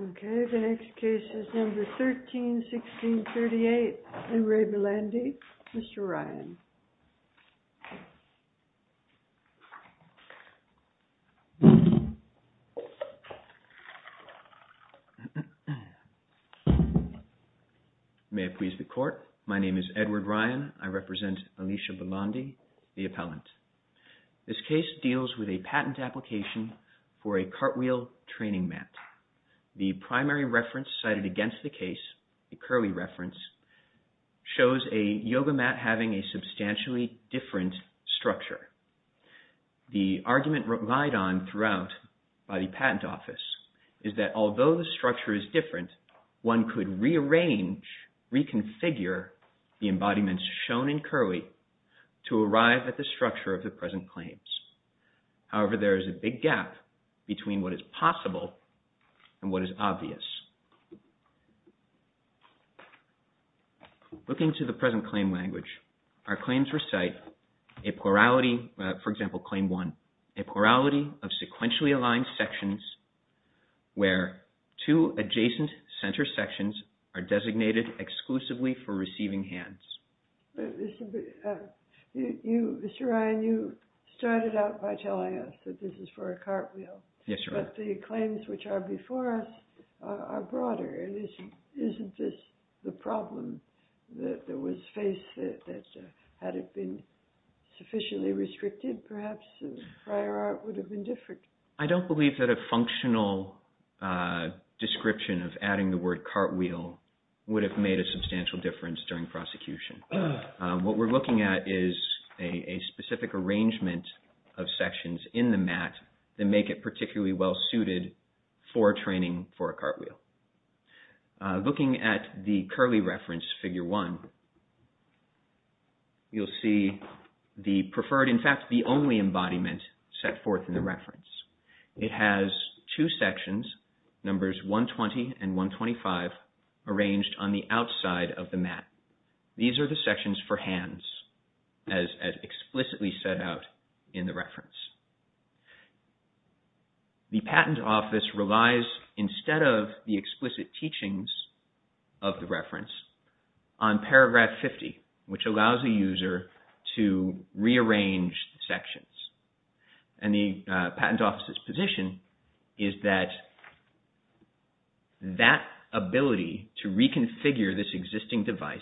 Okay, the case deals with a patent application for a cartwheel training mat. The primary reference cited against the case, the Curley reference, shows a yoga mat having a substantially different structure. The argument relied on throughout by the patent office is that although the structure is different, one could rearrange, reconfigure the embodiments shown in Curley to arrive at the structure of the present claims. However, there is a big gap between what is possible and what is obvious. Looking to the present claim language, our claims recite a plurality, for example, Claim 1, a plurality of sequentially aligned sections where two adjacent center sections are designated exclusively for receiving hands. But, Mr. Ryan, you started out by telling us that this is for a cartwheel, but the claims which are before us are broader. Isn't this the problem that was faced? Had it been sufficiently restricted, perhaps, the prior art would have been different. I don't believe that a functional description of adding the word cartwheel would have made a substantial difference during prosecution. What we're looking at is a specific arrangement of sections in the mat that make it particularly well-suited for training for a cartwheel. Looking at the Curley reference, Figure 1, you'll see the preferred, in fact, the only embodiment set forth in the reference. It has two sections, numbers 120 and 125, arranged on the outside of the mat. These are the sections for hands, as explicitly set out in the reference. The Patent Office relies, instead of the explicit teachings of the reference, on Paragraph 50, which allows the user to rearrange the sections. The Patent Office's position is that that figure, this existing device,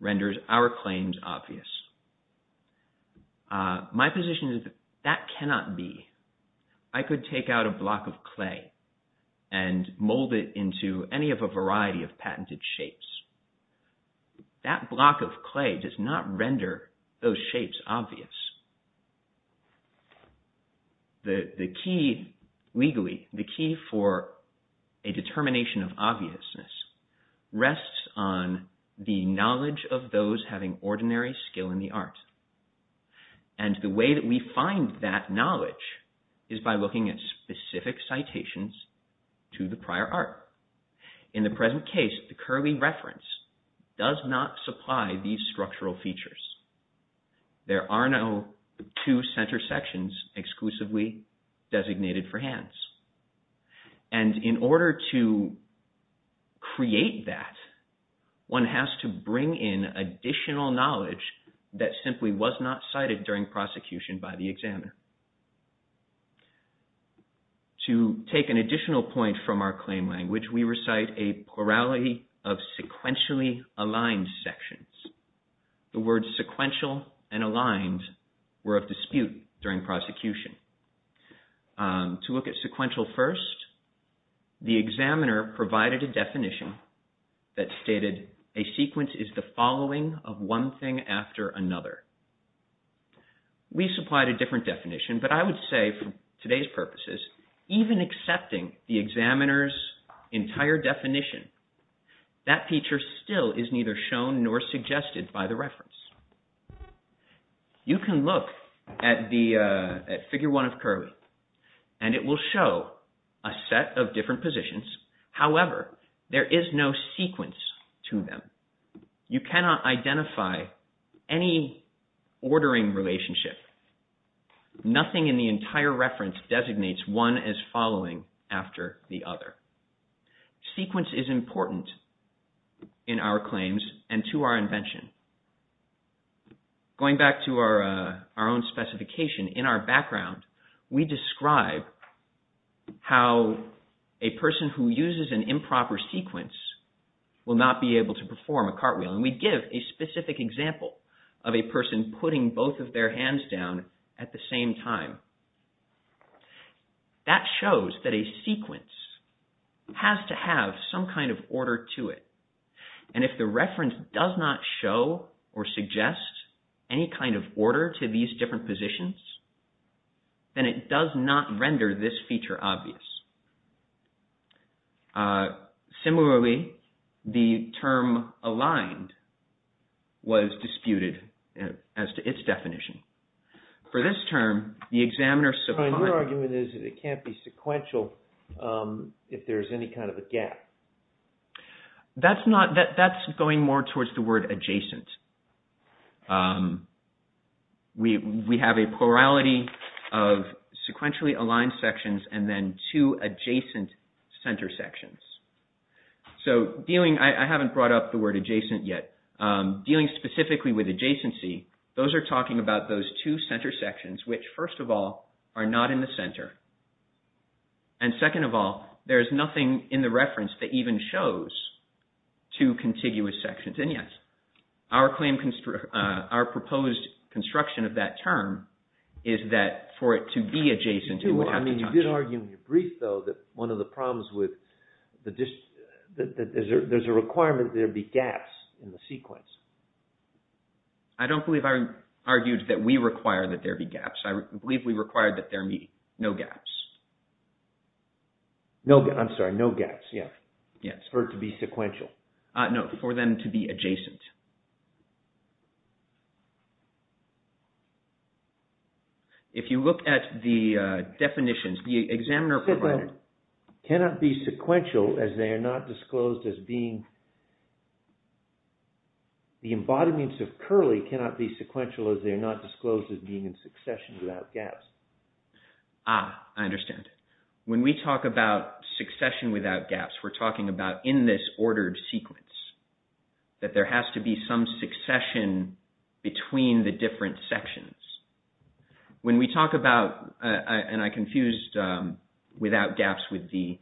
renders our claims obvious. My position is that that cannot be. I could take out a block of clay and mold it into any of a variety of patented shapes. That block of clay does not render those shapes obvious. The key, legally, the key for a determination of obviousness rests on the knowledge of those having ordinary skill in the art. And the way that we find that knowledge is by looking at specific citations to the prior art. In the present case, the Curley reference does not supply these structural features. There are no two center sections exclusively designated for hands. And in order to create that, one has to bring in additional knowledge that simply was not cited during prosecution by the examiner. To take an additional point from our claim language, we recite a plurality of and aligned were of dispute during prosecution. To look at sequential first, the examiner provided a definition that stated, a sequence is the following of one thing after another. We supplied a different definition, but I would say, for today's purposes, even accepting the examiner's entire definition, that feature still is neither shown nor suggested by the reference. You can look at the figure one of Curley and it will show a set of different positions. However, there is no sequence to them. You cannot identify any ordering relationship. Nothing in the entire reference designates one as following after the other. Sequence is important in our claims and to our invention. Going back to our own specification, in our background, we describe how a person who uses an improper sequence will not be able to perform a cartwheel. We give a specific example of a person putting both of their hands down at the same time. That shows that a sequence has to have some kind of order to it, and if the reference does not show or suggest any kind of order to these different positions, then it does not render this feature obvious. Similarly, the term aligned was disputed as to its definition. For this term, the examiner supplied... Your argument is that it can't be sequential if there is any kind of a gap. That's going more towards the word adjacent. We have a plurality of sequentially aligned sections and then two adjacent center sections. I haven't brought up the word adjacent yet. Dealing specifically with adjacency, those are talking about those two center sections, which first of all are not in the center, and second of all, there is nothing in the reference that even shows two contiguous sections. And yes, our proposed construction of that term is that for it to be adjacent, it would have to touch... You did argue in your brief, though, that one of the problems with... that there's a requirement that there be gaps in the sequence. I don't believe I argued that we require that there be gaps. I believe we require that there be no gaps. I'm sorry, no gaps, yeah. For it to be sequential. No, for them to be adjacent. If you look at the definitions, the examiner provided... Cannot be sequential as they are not disclosed as being... The embodiments of curly cannot be sequential as they are not disclosed as being in succession without gaps. Ah, I understand. When we talk about succession without gaps, we're talking about in this ordered sequence that there has to be some succession between the different sections. When we talk about, and I confused without gaps with the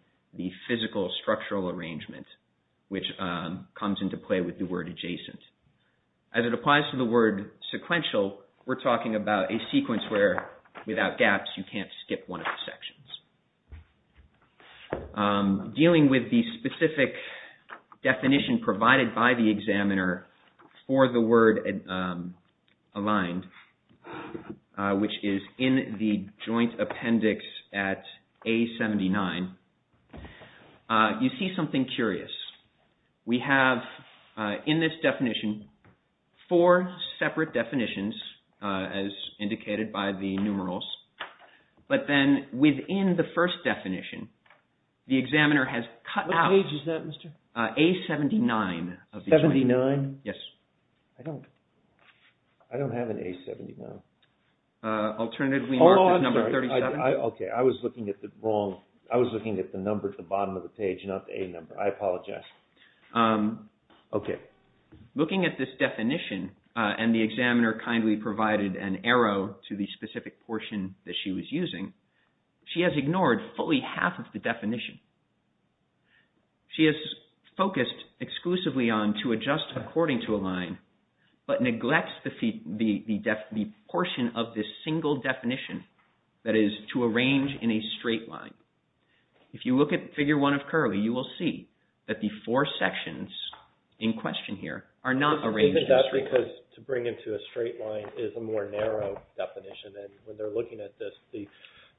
physical structural arrangement, which comes into play with the word adjacent, as it applies to the word sequential, we're talking about a sequence where without gaps you can't skip one of the sections. Dealing with the specific definition provided by the examiner for the word aligned, which is in the joint appendix at A79, you see something curious. We have in this definition four separate definitions as indicated by the numerals, but then within the first definition the examiner has cut out... What page is that, Mr.? A79 of the joint appendix. 79? Yes. I don't have an A79. Alternatively marked as number 37. Oh, I'm sorry. I was looking at the number at the bottom of the page, not the A number. I apologize. Okay. Looking at this definition, and the examiner kindly provided an arrow to the specific portion that she was using, she has ignored fully half of the definition. She has focused exclusively on to adjust according to a line, but neglects the portion of this single definition that is to arrange in a straight line. If you look at Figure 1 of Curly, you will see that the four sections in question here are not arranged... I think that's because to bring into a straight line is a more narrow definition, and when they're looking at this, the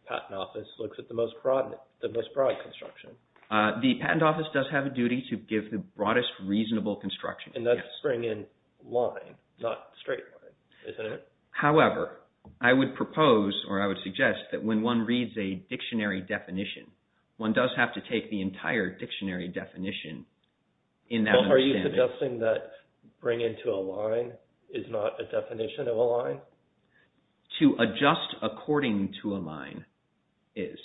patent office looks at the most broad construction. The patent office does have a duty to give the broadest reasonable construction. And that's bringing in line, not straight line, isn't it? However, I would propose, or I would suggest, that when one reads a dictionary definition, one does have to take the entire dictionary definition in that understanding. Are you suggesting that bring into a line is not a definition of a line? To adjust according to a line is.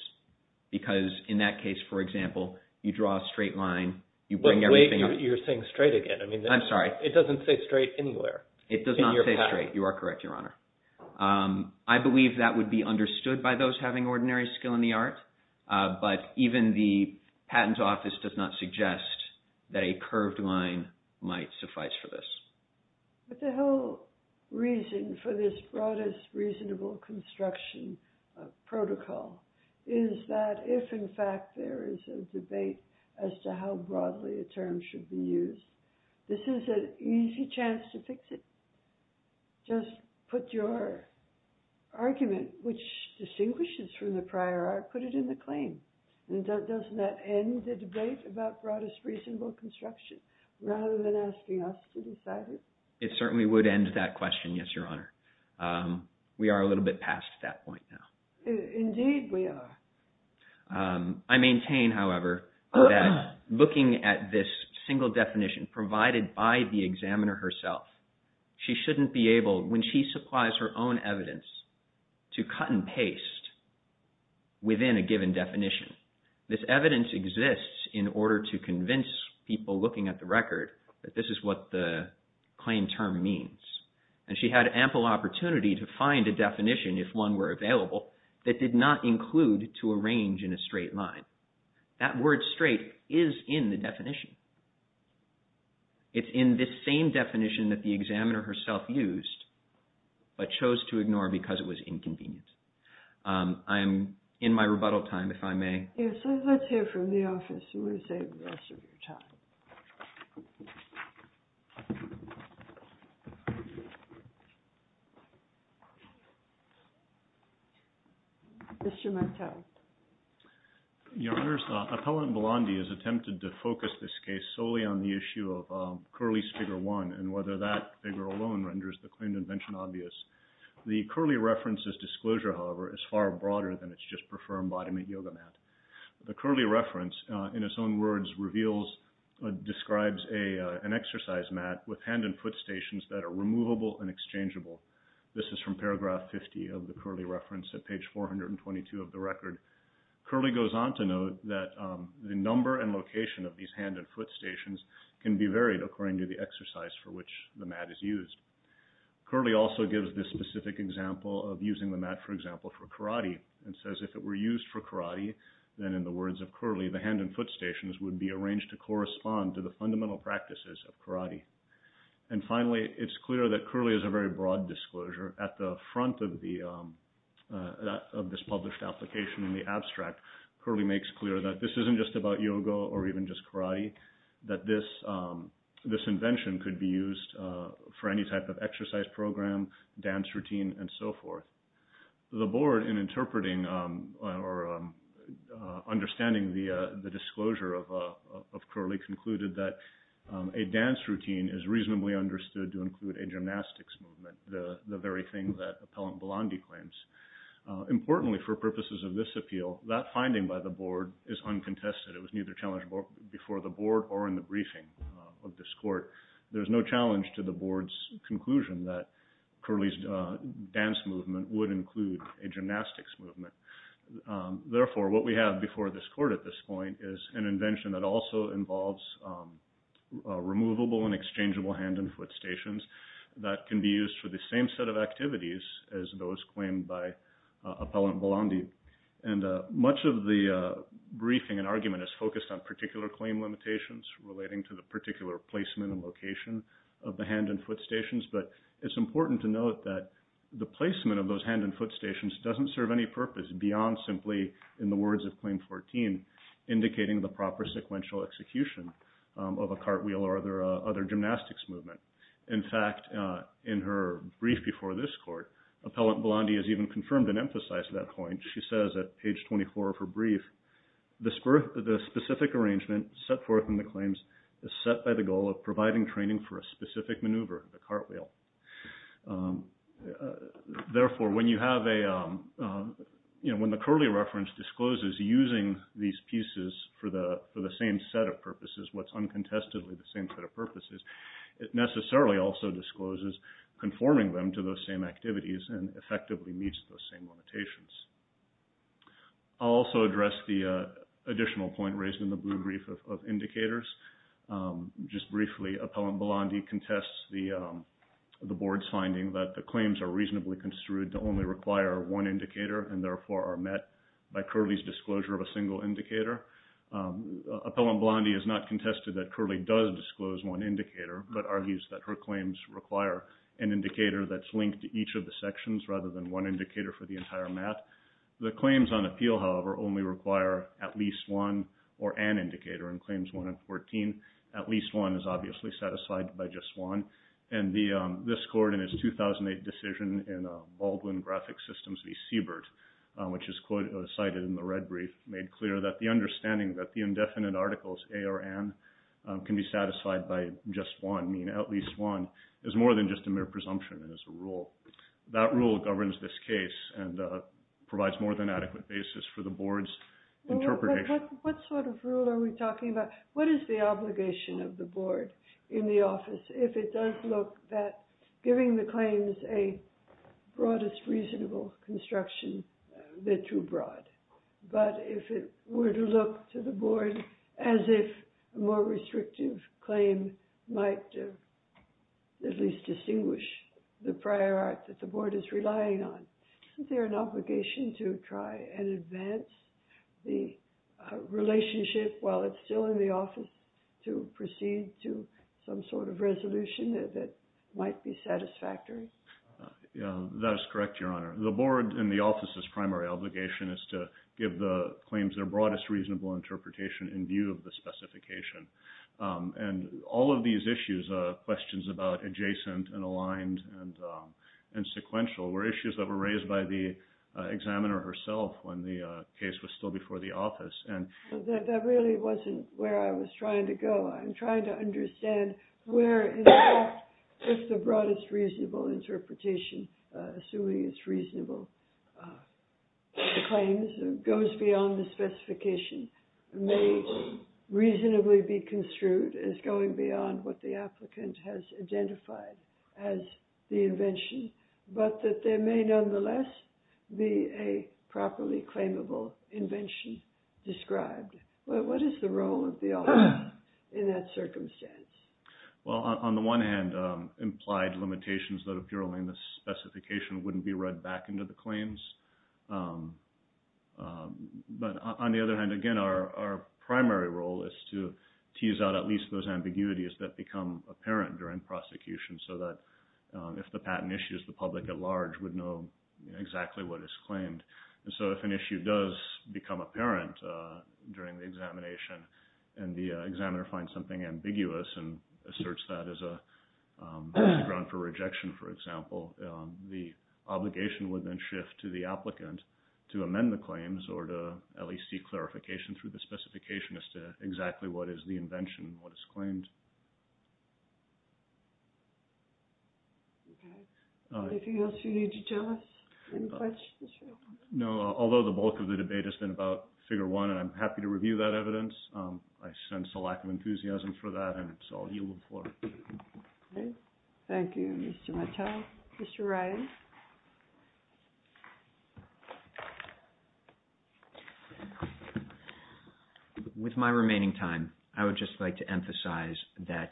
Because in that case, for example, you draw a straight line. Wait, you're saying straight again. I'm sorry. It doesn't say straight anywhere. It does not say straight. You are correct, Your Honor. I believe that would be understood by those having ordinary skill in the art, but even the patent office does not suggest that a curved line might suffice for this. But the whole reason for this broadest reasonable construction protocol is that if, in fact, there is a debate as to how broadly a term should be used, this is an easy chance to fix it. Just put your argument, which distinguishes from the prior art, put it in the claim. And doesn't that end the debate about broadest reasonable construction rather than asking us to decide it? It certainly would end that question, yes, Your Honor. We are a little bit past that point now. Indeed, we are. I maintain, however, that looking at this single definition provided by the examiner herself, she shouldn't be able, when she supplies her own evidence, to cut and paste within a given definition. This evidence exists in order to convince people looking at the record that this is what the claim term means. And she had ample opportunity to find a definition, if one were available, that did not include to arrange in a straight line. That word straight is in the definition. It's in this same definition that the examiner herself used but chose to ignore because it was inconvenient. I am in my rebuttal time, if I may. Yes, let's hear from the office and we'll save the rest of your time. Mr. Mattel. Your Honor, Appellant Blondie has attempted to focus this case solely on the issue of Curley's Figure 1 and whether that figure alone renders the claimed invention obvious. The Curley reference's disclosure, however, is far broader than its just-preferred embodiment yoga mat. The Curley reference, in its own words, describes an exercise mat with hand and foot stations that are removable and exchangeable. This is from paragraph 50 of the Curley reference at page 422 of the record. Curley goes on to note that the number and location of these hand and foot stations can be varied according to the exercise for which the mat is used. Curley also gives this specific example of using the mat, for example, for karate and says if it were used for karate, then in the words of Curley, the hand and foot stations would be arranged to correspond to the fundamental practices of karate. And finally, it's clear that Curley is a very broad disclosure. At the front of this published application in the abstract, Curley makes clear that this isn't just about yoga or even just karate, that this invention could be used for any type of exercise program, dance routine, and so forth. The board, in interpreting or understanding the disclosure of Curley, concluded that a dance routine is reasonably understood to include a gymnastics movement, the very thing that Appellant Blondie claims. Importantly, for purposes of this appeal, that finding by the board is uncontested. It was neither challenged before the board or in the briefing of this court. There's no challenge to the board's conclusion that Curley's dance movement would include a gymnastics movement. Therefore, what we have before this court at this point is an invention that also involves removable and exchangeable hand and foot stations that can be used for the same set of activities as those claimed by Appellant Blondie. And much of the briefing and argument is focused on particular claim limitations relating to the particular placement and location of the hand and foot stations. But it's important to note that the placement of those hand and foot stations doesn't serve any purpose beyond simply, in the words of Claim 14, indicating the proper sequential execution of a cartwheel or other gymnastics movement. In fact, in her brief before this court, Appellant Blondie has even confirmed and emphasized that point. She says at page 24 of her brief, the specific arrangement set forth in the claims is set by the goal of providing training for a specific maneuver, the cartwheel. Therefore, when the Curley reference discloses using these pieces for the same set of purposes, what's uncontestedly the same set of purposes, it necessarily also discloses conforming them to those same activities and effectively meets those same limitations. I'll also address the additional point raised in the brief of indicators. Just briefly, Appellant Blondie contests the board's finding that the claims are reasonably construed to only require one indicator and therefore are met by Curley's disclosure of a single indicator. Appellant Blondie has not contested that Curley does disclose one indicator, but argues that her claims require an indicator that's linked to each of the sections rather than one indicator for the entire map. The claims on appeal, however, only require at least one or an indicator in Claims 1 and 14. At least one is obviously satisfied by just one. And this court in its 2008 decision in Baldwin Graphic Systems v. Siebert, which is cited in the red brief, made clear that the understanding that the indefinite articles A or N can be satisfied by just one, meaning at least one, is more than just a mere presumption and is a rule. That rule governs this case and provides more than adequate basis for the board's interpretation. What sort of rule are we talking about? What is the obligation of the board in the office if it does look that giving the claims a broadest reasonable construction, they're too broad? But if it were to look to the board as if a more restrictive claim might at least distinguish the prior art that the board is relying on, isn't there an obligation to try and advance the relationship while it's still in the office to proceed to some sort of resolution that might be satisfactory? That is correct, Your Honor. The board in the office's primary obligation is to give the claims their broadest reasonable interpretation in view of the specification. And all of these issues, questions about adjacent and aligned and sequential, were issues that were raised by the examiner herself when the case was still before the office. That really wasn't where I was trying to go. I'm trying to understand where the broadest reasonable interpretation, assuming it's reasonable claims, goes beyond the specification may reasonably be construed as going beyond what the applicant has identified as the invention, but that there may nonetheless be a properly claimable invention described. What is the role of the office in that circumstance? Well, on the one hand, implied limitations that appear only in the specification wouldn't be read back into the claims. But on the other hand, again, our primary role is to tease out at least those ambiguities that become apparent during prosecution so that if the patent issues, the public at large would know exactly what is claimed. And so if an issue does become apparent during the examination and the examiner finds something ambiguous and asserts that as a ground for rejection, for example, the obligation would then shift to the applicant to amend the claims or to at least seek clarification through the specification as to exactly what is the invention, what is claimed. Anything else you need to tell us? No, although the bulk of the debate has been about figure one, I'm happy to review that evidence. I sense a lack of enthusiasm for that, and it's all you look for. Thank you, Mr. Mattel. Mr. Ryan. With my remaining time, I would just like to emphasize that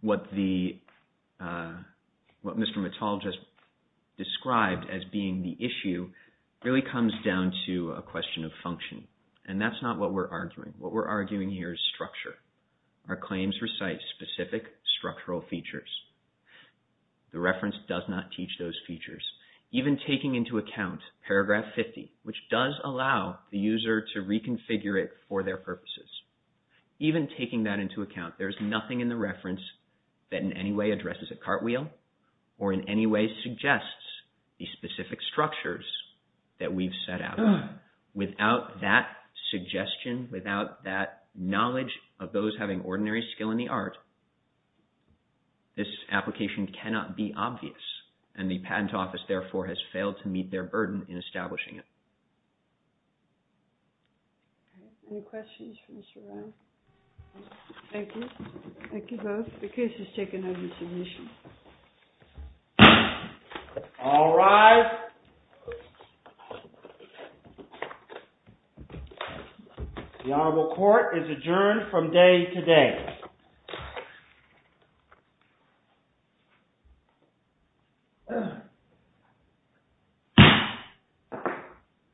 what Mr. Mattel just described as being the issue really comes down to a question of function, and that's not what we're arguing. What we're arguing here is structure. Our claims recite specific structural features. The reference does not teach those features. Even taking into account paragraph 50, which does allow the user to reconfigure it for their purposes, even taking that into account, there's nothing in the reference that in any way addresses a cartwheel or in any way suggests the specific structures that we've set out. Without that suggestion, without that knowledge of those having ordinary skill in the art, this application cannot be obvious, and the Patent Office, therefore, has failed to meet their burden in establishing it. Any questions for Mr. Ryan? Thank you. Thank you both. The case is taken under submission. All rise. The Honorable Court is adjourned from day to day.